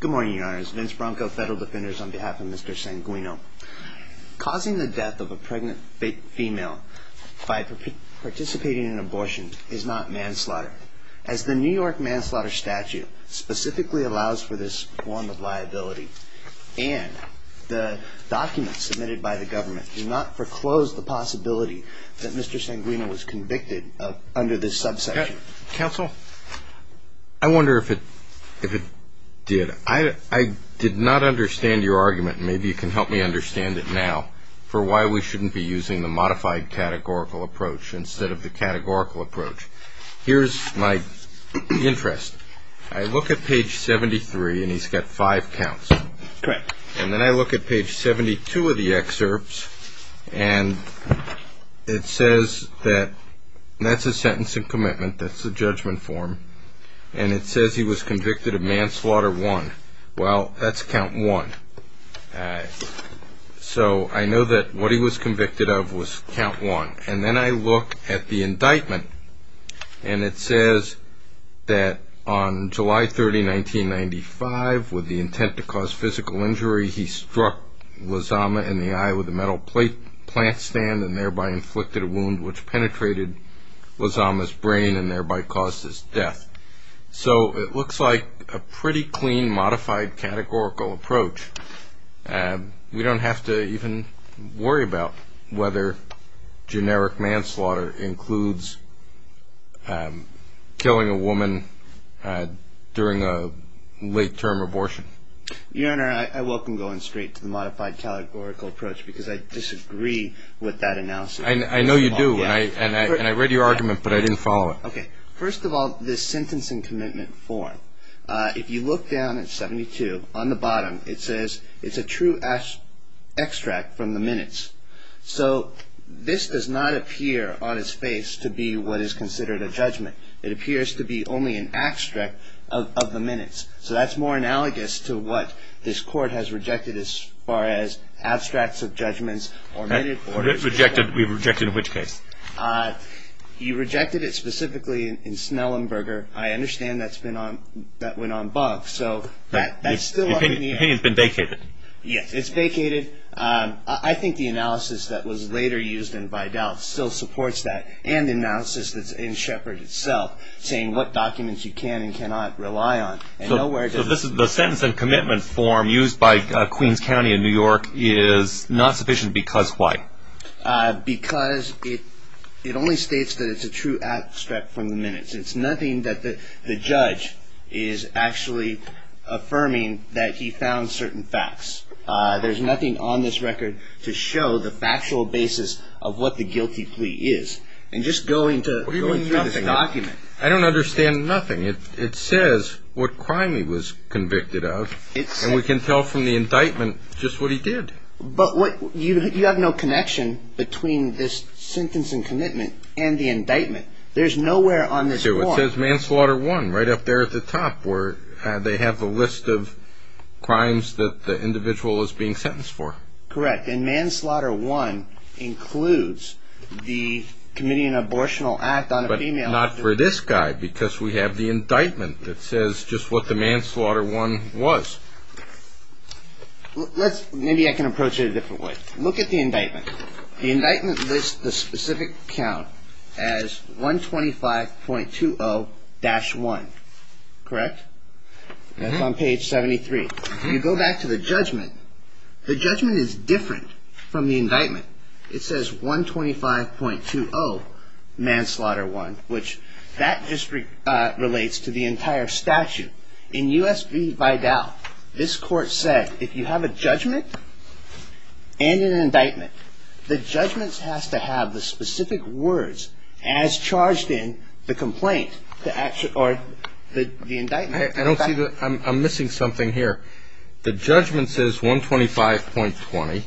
Good morning, your honors. Vince Bronco, Federal Defenders, on behalf of Mr. Sanguino. Causing the death of a pregnant female by participating in an abortion is not manslaughter, as the New York manslaughter statute specifically allows for this form of liability, and the documents submitted by the government do not foreclose the possibility that Mr. Sanguino was convicted under this subsection. Counsel, I wonder if it did. I did not understand your argument, and maybe you can help me understand it now, for why we shouldn't be using the modified categorical approach instead of the categorical approach. Here's my interest. I look at page 73, and he's got five counts. Correct. And then I look at page 72 of the excerpts, and it says that that's a sentence in commitment, that's the judgment form, and it says he was convicted of manslaughter one. Well, that's count one. So I know that what he was convicted of was count one. And then I look at the indictment, and it says that on July 30, 1995, with the intent to cause physical injury, he struck Lozama in the eye with a metal plant stand and thereby inflicted a wound which penetrated Lozama's brain and thereby caused his death. So it looks like a pretty clean modified categorical approach. We don't have to even worry about whether generic manslaughter includes killing a woman during a late-term abortion. Your Honor, I welcome going straight to the modified categorical approach, because I disagree with that analysis. I know you do, and I read your argument, but I didn't follow it. Okay. First of all, this sentence in commitment form, if you look down at 72, on the bottom, it says it's a true extract from the minutes. So this does not appear on its face to be what is considered a judgment. It appears to be only an extract of the minutes. So that's more analogous to what this Court has rejected as far as abstracts of judgments or minutes. Rejected? We've rejected which case? You rejected it specifically in Snellenberger. I understand that went en banc, so that's still up in the air. The opinion's been vacated. Yes, it's vacated. I think the analysis that was later used in Vidal still supports that, and the analysis that's in Shepard itself, saying what documents you can and cannot rely on. So the sentence in commitment form used by Queens County in New York is not sufficient because why? Because it only states that it's a true extract from the minutes. It's nothing that the judge is actually affirming that he found certain facts. There's nothing on this record to show the factual basis of what the guilty plea is. And just going through this document. I don't understand nothing. It says what crime he was convicted of, and we can tell from the indictment just what he did. But you have no connection between this sentence in commitment and the indictment. There's nowhere on this form. It says manslaughter one right up there at the top where they have the list of crimes that the individual is being sentenced for. Correct, and manslaughter one includes the committing an abortional act on a female. But not for this guy because we have the indictment that says just what the manslaughter one was. Maybe I can approach it a different way. Look at the indictment. The indictment lists the specific count as 125.20-1. Correct? That's on page 73. If you go back to the judgment, the judgment is different from the indictment. It says 125.20 manslaughter one, which that just relates to the entire statute. In U.S. v. Vidal, this court said if you have a judgment and an indictment, the judgment has to have the specific words as charged in the indictment. I'm missing something here. The judgment says 125.20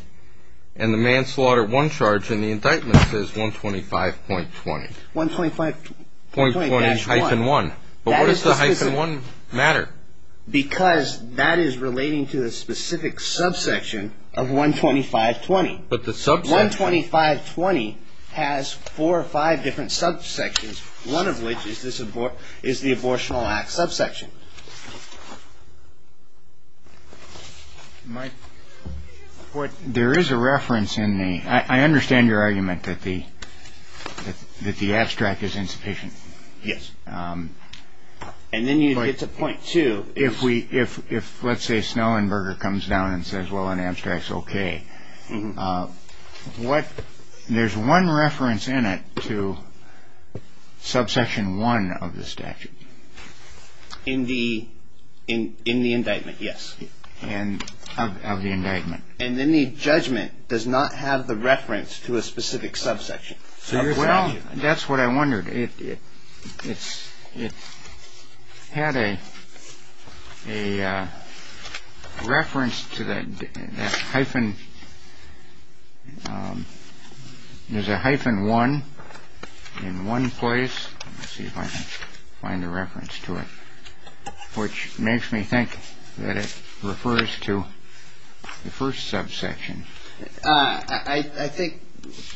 and the manslaughter one charge in the indictment says 125.20. 125.20-1. But why does the 1 matter? Because that is relating to the specific subsection of 125.20. But the subsection? 125.20 has four or five different subsections, one of which is the abortional act subsection. There is a reference in theóI understand your argument that the abstract is insufficient. Yes. And then you get to point 2. If, let's say, Snellenberger comes down and says, well, an abstract is okay, there's one reference in it to subsection 1 of the statute. In the indictment, yes. Of the indictment. And then the judgment does not have the reference to a specific subsection. Well, that's what I wondered. It had a reference to that hyphenóthere's a hyphen 1 in one place. Let's see if I can find the reference to it, which makes me think that it refers to the first subsection. I think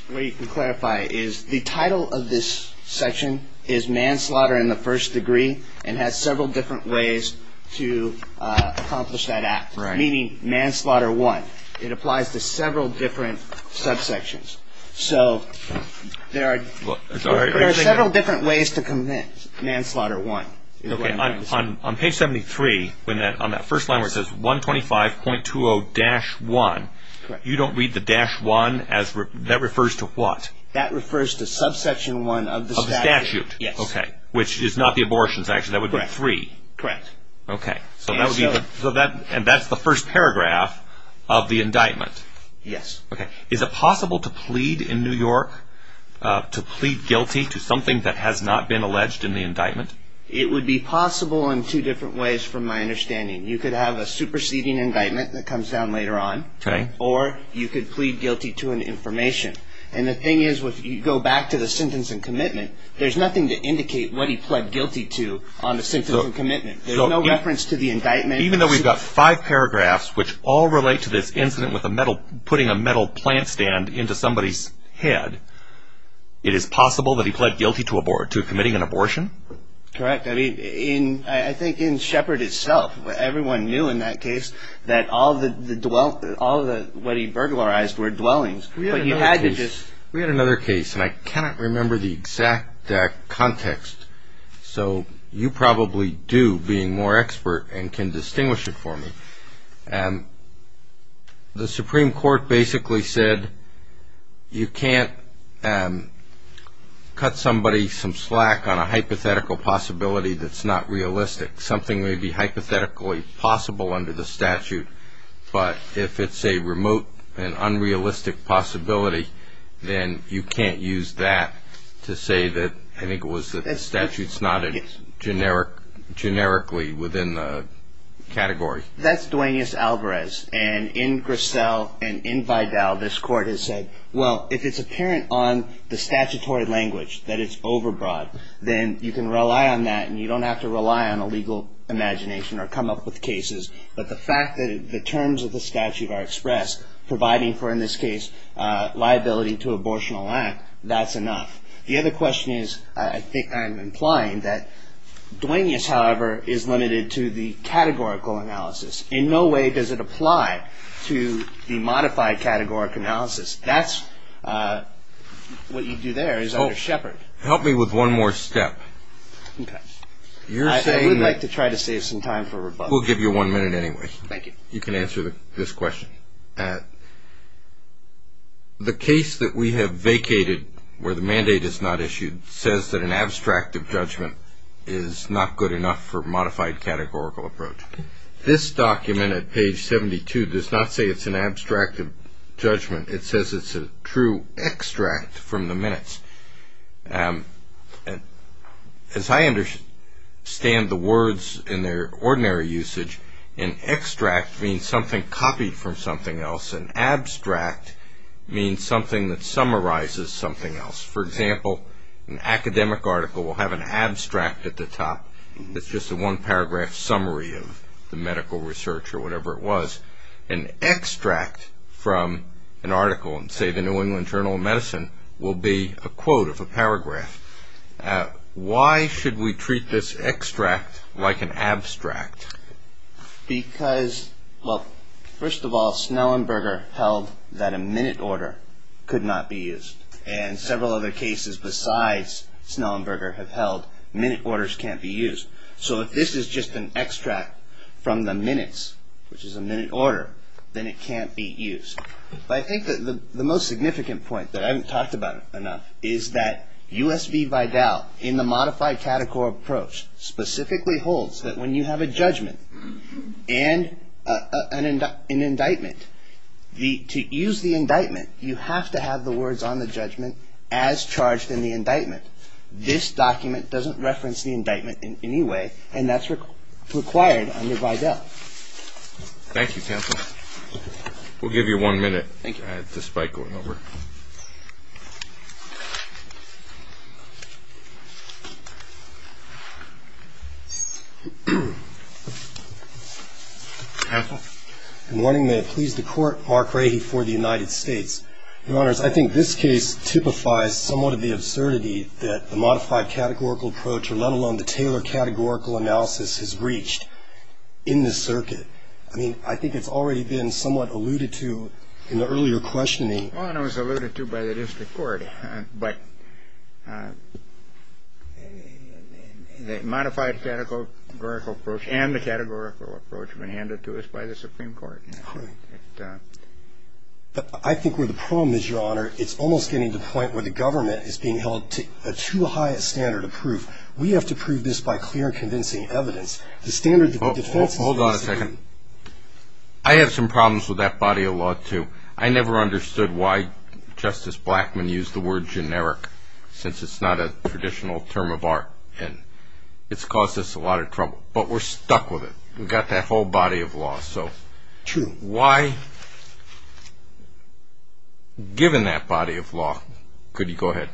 what you can clarify is the title of this section is manslaughter in the first degree and has several different ways to accomplish that act, meaning manslaughter 1. It applies to several different subsections. So there are several different ways to commit manslaughter 1. Okay. On page 73, on that first line where it says 125.20-1, you don't read the dash 1 asóthat refers to what? That refers to subsection 1 of the statute. Of the statute. Yes. Okay. Which is not the abortions, actually. That would be 3. Correct. Okay. So that would beóand that's the first paragraph of the indictment. Yes. Okay. Is it possible to plead in New York, to plead guilty to something that has not been alleged in the indictment? It would be possible in two different ways from my understanding. You could have a superseding indictment that comes down later on. Okay. Or you could plead guilty to an information. And the thing is, if you go back to the sentence and commitment, there's nothing to indicate what he pled guilty to on the sentence and commitment. There's no reference to the indictment. Even though we've got five paragraphs which all relate to this incident with a metalóputting a metal plant stand into somebody's head, it is possible that he pled guilty to committing an abortion? Correct. I mean, I think in Shepard itself, everyone knew in that case that all theówhat he burglarized were dwellings. But he had to justó We had another case, and I cannot remember the exact context. So you probably do, being more expert and can distinguish it for me. The Supreme Court basically said you can't cut somebody some slack on a hypothetical possibility that's not realistic. Something may be hypothetically possible under the statute, but if it's a remote and unrealistic possibility, then you can't use that to say thatóI think it was that the statute's not generically within the category. That's Duaneus Alvarez. And in Grissel and in Vidal, this Court has said, well, if it's apparent on the statutory language that it's overbroad, then you can rely on that and you don't have to rely on a legal imagination or come up with cases. But the fact that the terms of the statute are expressed, providing for, in this case, liability to abortional act, that's enough. The other question is, I think I'm implying that Duaneus, however, is limited to the categorical analysis. In no way does it apply to the modified categorical analysis. That's what you do there is under Shepard. Help me with one more step. Okay. I would like to try to save some time for rebuttal. We'll give you one minute anyway. Thank you. You can answer this question. The case that we have vacated, where the mandate is not issued, says that an abstract of judgment is not good enough for modified categorical approach. This document at page 72 does not say it's an abstract of judgment. It says it's a true extract from the minutes. As I understand the words in their ordinary usage, an extract means something copied from something else. An abstract means something that summarizes something else. For example, an academic article will have an abstract at the top. It's just a one-paragraph summary of the medical research or whatever it was. An extract from an article in, say, the New England Journal of Medicine will be a quote of a paragraph. Why should we treat this extract like an abstract? Because, well, first of all, Snellenberger held that a minute order could not be used, and several other cases besides Snellenberger have held minute orders can't be used. So if this is just an extract from the minutes, which is a minute order, then it can't be used. But I think the most significant point that I haven't talked about enough is that U.S. v. Vidal, in the modified categorical approach, specifically holds that when you have a judgment and an indictment, to use the indictment, you have to have the words on the judgment as charged in the indictment. This document doesn't reference the indictment in any way, and that's required under Vidal. Thank you, counsel. We'll give you one minute. Thank you. I had this spike going over. Counsel? Good morning. May it please the Court, Mark Rahe for the United States. Your Honors, I think this case typifies somewhat of the absurdity that the modified categorical approach, or let alone the Taylor categorical analysis, has reached in this circuit. I mean, I think it's already been somewhat alluded to in the earlier questioning. Well, it was alluded to by the district court, but the modified categorical approach and the categorical approach have been handed to us by the Supreme Court. But I think where the problem is, Your Honor, it's almost getting to the point where the government is being held to too high a standard of proof. We have to prove this by clear and convincing evidence. Hold on a second. I have some problems with that body of law, too. I never understood why Justice Blackmun used the word generic, since it's not a traditional term of art, and it's caused us a lot of trouble. But we're stuck with it. We've got that whole body of law. True. Why, given that body of law, could you go ahead?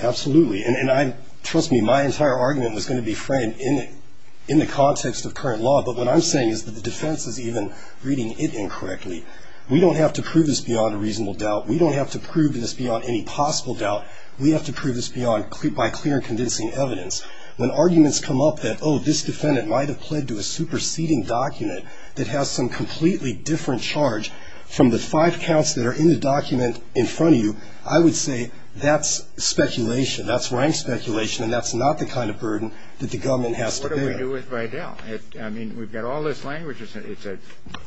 Absolutely. And trust me, my entire argument was going to be framed in the context of current law, but what I'm saying is that the defense is even reading it incorrectly. We don't have to prove this beyond a reasonable doubt. We don't have to prove this beyond any possible doubt. We have to prove this by clear and convincing evidence. When arguments come up that, oh, this defendant might have pled to a superseding document that has some completely different charge from the five counts that are in the document in front of you, I would say that's speculation. That's rank speculation, and that's not the kind of burden that the government has to bear. What do we do with Vidal? I mean, we've got all this language. It's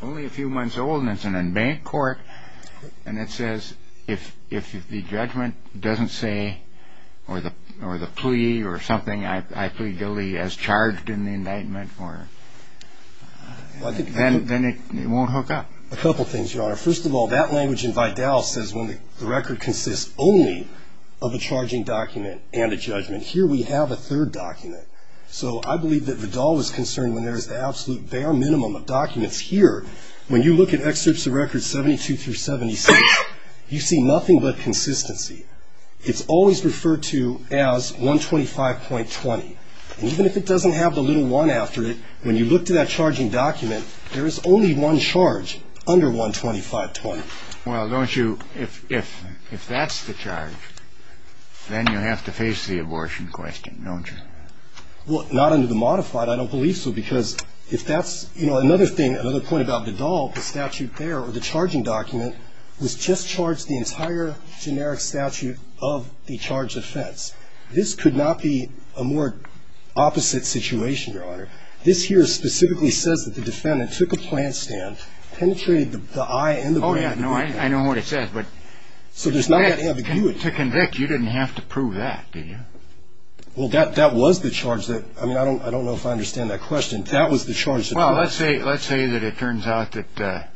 only a few months old, and it's an unbanked court, and it says if the judgment doesn't say or the plea or something, I plead guilty as charged in the indictment, then it won't hook up. A couple things, Your Honor. First of all, that language in Vidal says when the record consists only of a charging document and a judgment. Here we have a third document. So I believe that Vidal was concerned when there was the absolute bare minimum of documents. Here, when you look at excerpts of records 72 through 76, you see nothing but consistency. It's always referred to as 125.20, and even if it doesn't have the little one after it, when you look to that charging document, there is only one charge under 125.20. Well, don't you, if that's the charge, then you have to face the abortion question, don't you? Well, not under the modified. I don't believe so because if that's, you know, another thing, another point about Vidal, the statute there or the charging document was just charged the entire generic statute of the charge offense. This here specifically says that the defendant took a plant stand, penetrated the eye and the brain. Oh, yeah, I know what it says, but to convict, you didn't have to prove that, did you? Well, that was the charge. I mean, I don't know if I understand that question. That was the charge. Well, let's say that it turns out that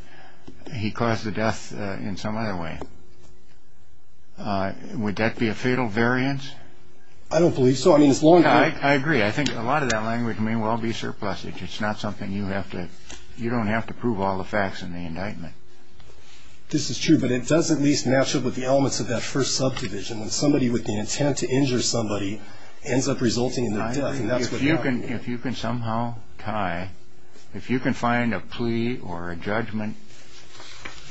he caused the death in some other way. Would that be a fatal variance? I don't believe so. I agree. I think a lot of that language may well be surplusage. It's not something you have to – you don't have to prove all the facts in the indictment. This is true, but it does at least match up with the elements of that first subdivision, when somebody with the intent to injure somebody ends up resulting in their death. If you can somehow tie – if you can find a plea or a judgment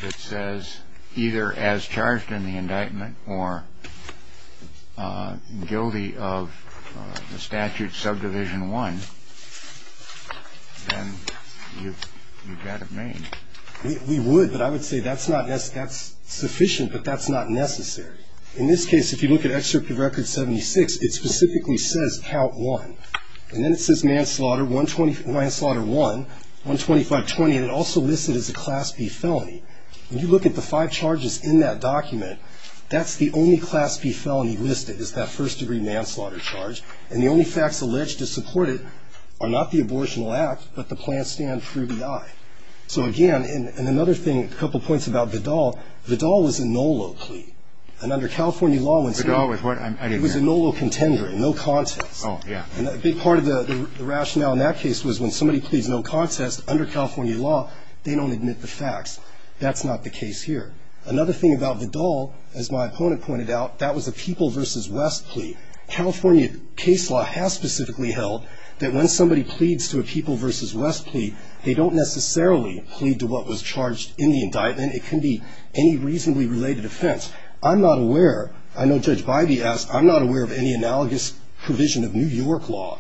that says either as charged in the indictment or guilty of the statute subdivision one, then you've got it made. We would, but I would say that's not – that's sufficient, but that's not necessary. In this case, if you look at Excerpt of Record 76, it specifically says count one, and then it says manslaughter one, 12520, and it also lists it as a Class B felony. When you look at the five charges in that document, that's the only Class B felony listed is that first-degree manslaughter charge, and the only facts alleged to support it are not the abortional act, but the planned stand for EDI. So, again, and another thing, a couple points about Vidal. Vidal was a NOLO plea, and under California law when somebody – Vidal was what? It was a NOLO contender, no contest. Oh, yeah. And a big part of the rationale in that case was when somebody pleads no contest, under California law they don't admit the facts. That's not the case here. Another thing about Vidal, as my opponent pointed out, that was a People v. West plea. California case law has specifically held that when somebody pleads to a People v. West plea, they don't necessarily plead to what was charged in the indictment. It can be any reasonably related offense. I'm not aware, I know Judge Bybee asked, I'm not aware of any analogous provision of New York law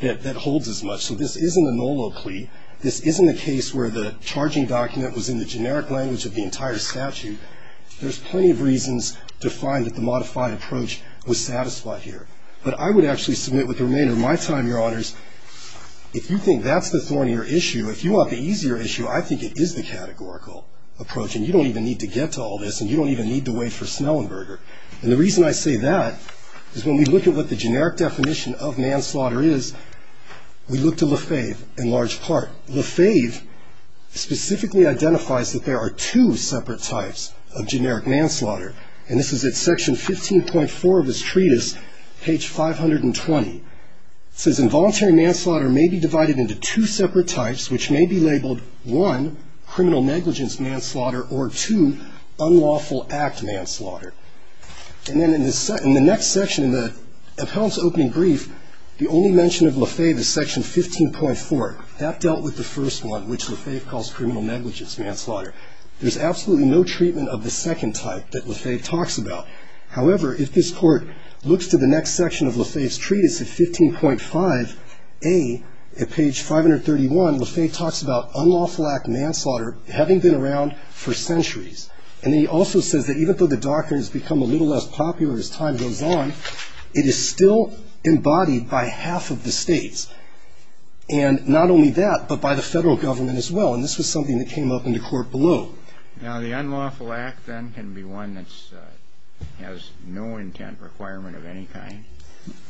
that holds as much. So this isn't a NOLO plea. This isn't a case where the charging document was in the generic language of the entire statute. There's plenty of reasons to find that the modified approach was satisfied here. But I would actually submit with the remainder of my time, Your Honors, if you think that's the thornier issue, if you want the easier issue, I think it is the categorical approach. And you don't even need to get to all this, and you don't even need to wait for Snellenberger. And the reason I say that is when we look at what the generic definition of manslaughter is, we look to Lefebvre in large part. Lefebvre specifically identifies that there are two separate types of generic manslaughter. And this is at section 15.4 of his treatise, page 520. It says involuntary manslaughter may be divided into two separate types, which may be labeled, one, criminal negligence manslaughter, or two, unlawful act manslaughter. And then in the next section of the appellant's opening brief, the only mention of Lefebvre is section 15.4. That dealt with the first one, which Lefebvre calls criminal negligence manslaughter. There's absolutely no treatment of the second type that Lefebvre talks about. However, if this Court looks to the next section of Lefebvre's treatise at 15.5a at page 531, Lefebvre talks about unlawful act manslaughter having been around for centuries. And then he also says that even though the doctrine has become a little less popular as time goes on, it is still embodied by half of the states. And not only that, but by the Federal Government as well. And this was something that came up in the Court below. Now, the unlawful act then can be one that has no intent requirement of any kind?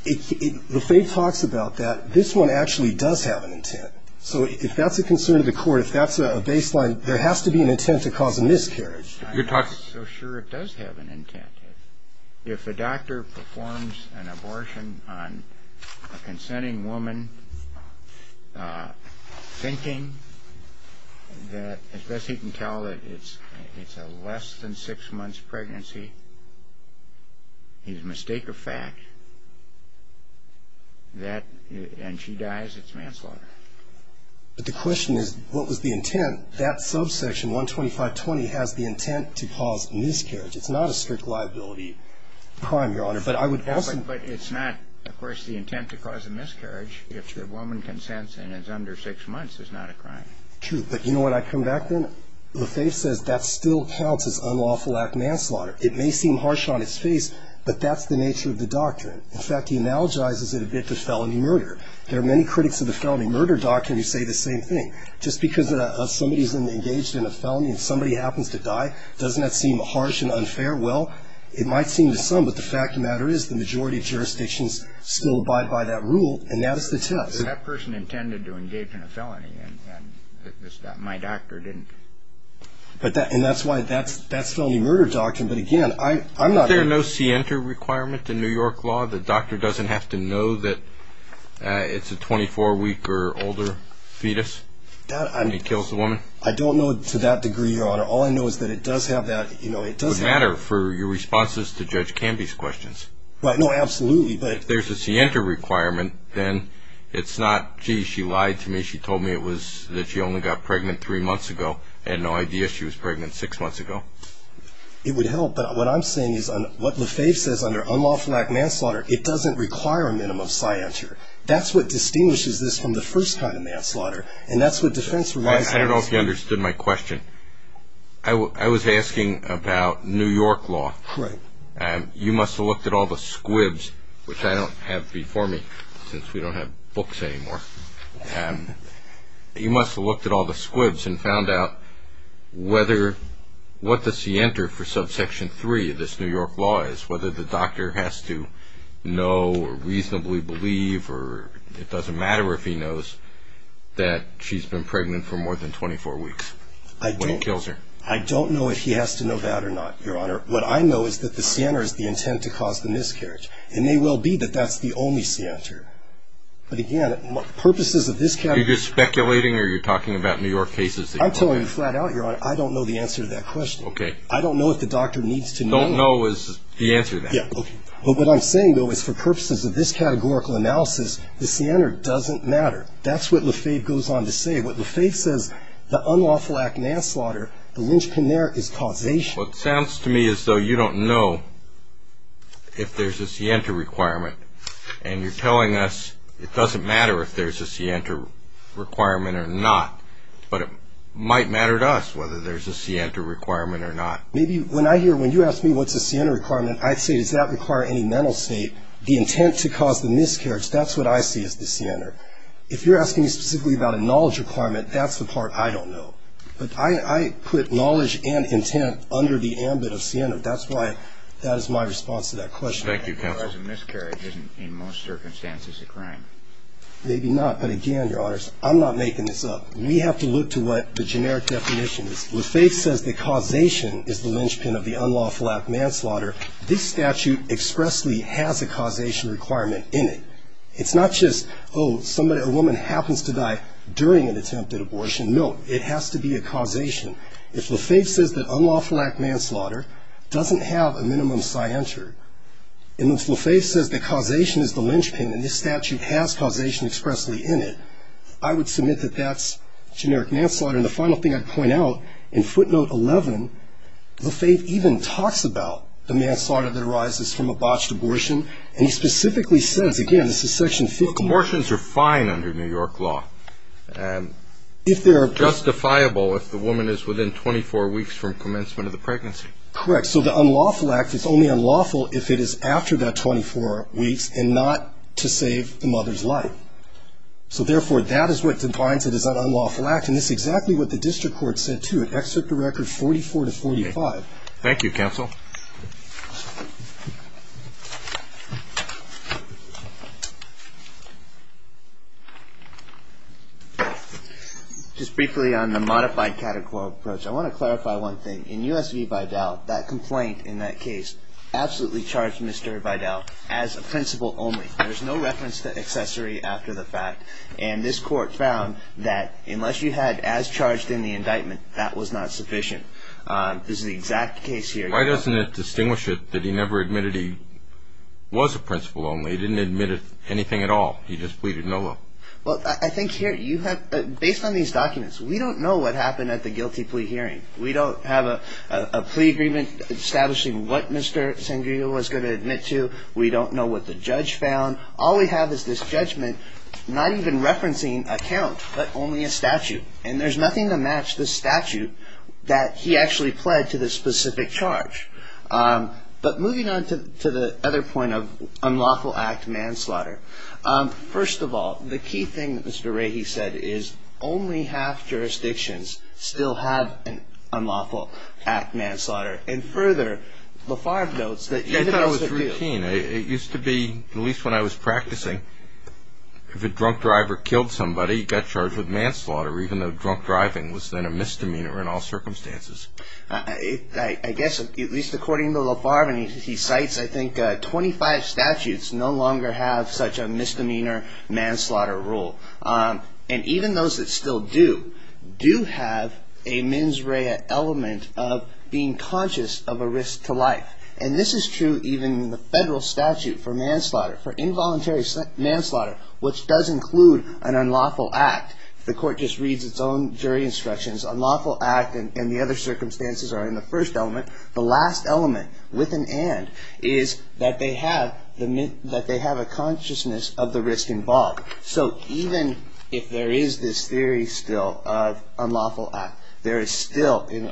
Lefebvre talks about that. This one actually does have an intent. So if that's a concern to the Court, if that's a baseline, there has to be an intent to cause a miscarriage. I'm not so sure it does have an intent. If a doctor performs an abortion on a consenting woman thinking that, as best he can tell, it's a less than six months pregnancy, he's a mistake of fact, and she dies, it's manslaughter. But the question is, what was the intent? That subsection, 125.20, has the intent to cause miscarriage. It's not a strict liability crime, Your Honor. But I would also ---- But it's not, of course, the intent to cause a miscarriage if the woman consents and is under six months. It's not a crime. True. But, you know, when I come back then, Lefebvre says that still counts as unlawful act of manslaughter. It may seem harsh on its face, but that's the nature of the doctrine. In fact, he analogizes it a bit to felony murder. There are many critics of the felony murder doctrine who say the same thing. Just because somebody's engaged in a felony and somebody happens to die, doesn't that seem harsh and unfair? Well, it might seem to some, but the fact of the matter is the majority of jurisdictions still abide by that rule, and that is the test. That person intended to engage in a felony, and my doctor didn't. And that's why that's felony murder doctrine. But, again, I'm not ---- Is there no scienter requirement in New York law that the doctor doesn't have to know that it's a 24-week or older fetus and he kills the woman? I don't know to that degree, Your Honor. All I know is that it does have that, you know, it does have ---- It would matter for your responses to Judge Canby's questions. Well, no, absolutely, but ---- If there's a scienter requirement, then it's not, gee, she lied to me. She told me it was that she only got pregnant three months ago. I had no idea she was pregnant six months ago. It would help, but what I'm saying is what LaFave says under unlawful manslaughter, it doesn't require a minimum scienter. That's what distinguishes this from the first kind of manslaughter, and that's what defense ---- I don't know if you understood my question. I was asking about New York law. Correct. You must have looked at all the squibs, which I don't have before me, since we don't have books anymore. You must have looked at all the squibs and found out what does he enter for subsection 3 of this New York law is, whether the doctor has to know or reasonably believe or it doesn't matter if he knows that she's been pregnant for more than 24 weeks when he kills her. I don't know if he has to know that or not, Your Honor. What I know is that the scienter is the intent to cause the miscarriage, and it may well be that that's the only scienter. But again, purposes of this ---- Are you just speculating or are you talking about New York cases that you know of? I'm telling you flat out, Your Honor, I don't know the answer to that question. Okay. I don't know if the doctor needs to know. Don't know is the answer to that. Okay. But what I'm saying, though, is for purposes of this categorical analysis, the scienter doesn't matter. That's what LaFave goes on to say. What LaFave says, the unlawful act of manslaughter, the lynchpin there is causation. Well, it sounds to me as though you don't know if there's a scienter requirement, and you're telling us it doesn't matter if there's a scienter requirement or not, but it might matter to us whether there's a scienter requirement or not. When you ask me what's a scienter requirement, I say does that require any mental state? The intent to cause the miscarriage, that's what I see as the scienter. If you're asking me specifically about a knowledge requirement, that's the part I don't know. But I put knowledge and intent under the ambit of scienter. That's why that is my response to that question. Thank you, counsel. Whereas a miscarriage isn't in most circumstances a crime. Maybe not. But again, Your Honors, I'm not making this up. We have to look to what the generic definition is. LaFave says that causation is the lynchpin of the unlawful act of manslaughter. This statute expressly has a causation requirement in it. It's not just, oh, somebody, a woman happens to die during an attempted abortion. No, it has to be a causation. If LaFave says that unlawful act of manslaughter doesn't have a minimum scienter, and if LaFave says that causation is the lynchpin, and this statute has causation expressly in it, I would submit that that's generic manslaughter. And the final thing I'd point out, in footnote 11, LaFave even talks about the manslaughter that arises from a botched abortion. And he specifically says, again, this is Section 50. Abortions are fine under New York law. Justifiable if the woman is within 24 weeks from commencement of the pregnancy. Correct. So the unlawful act is only unlawful if it is after that 24 weeks and not to save the mother's life. So, therefore, that is what defines it as an unlawful act, and it's exactly what the district court said, too, in Excerpt to Record 44 to 45. Thank you, counsel. Just briefly on the modified categorical approach, I want to clarify one thing. In U.S. v. Vidal, that complaint in that case absolutely charged Mr. Vidal as a principal only. There's no reference to accessory after the fact. And this court found that unless you had as charged in the indictment, that was not sufficient. This is the exact case here. Why doesn't it distinguish it that he never admitted he was a principal only? He didn't admit anything at all. He just pleaded no law. Well, I think here you have – based on these documents, we don't know what happened at the guilty plea hearing. We don't have a plea agreement establishing what Mr. Sangria was going to admit to. We don't know what the judge found. All we have is this judgment not even referencing a count but only a statute, and there's nothing to match the statute that he actually pled to this specific charge. But moving on to the other point of unlawful act manslaughter, first of all, the key thing that Mr. Rahe said is only half jurisdictions still have an unlawful act manslaughter. And further, LaFarve notes that – I thought it was routine. It used to be, at least when I was practicing, if a drunk driver killed somebody, he got charged with manslaughter, even though drunk driving was then a misdemeanor in all circumstances. I guess, at least according to LaFarve, and he cites, I think, 25 statutes no longer have such a misdemeanor manslaughter rule. And even those that still do, do have a mens rea element of being conscious of a risk to life. And this is true even in the federal statute for manslaughter, for involuntary manslaughter, which does include an unlawful act. The court just reads its own jury instructions. Unlawful act and the other circumstances are in the first element. The last element, with an and, is that they have a consciousness of the risk involved. So even if there is this theory still of unlawful act, there is still, in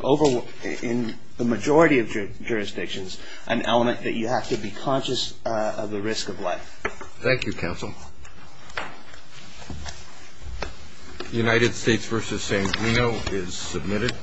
the majority of jurisdictions, an element that you have to be conscious of the risk of life. Thank you, counsel. United States v. San Bruno is submitted.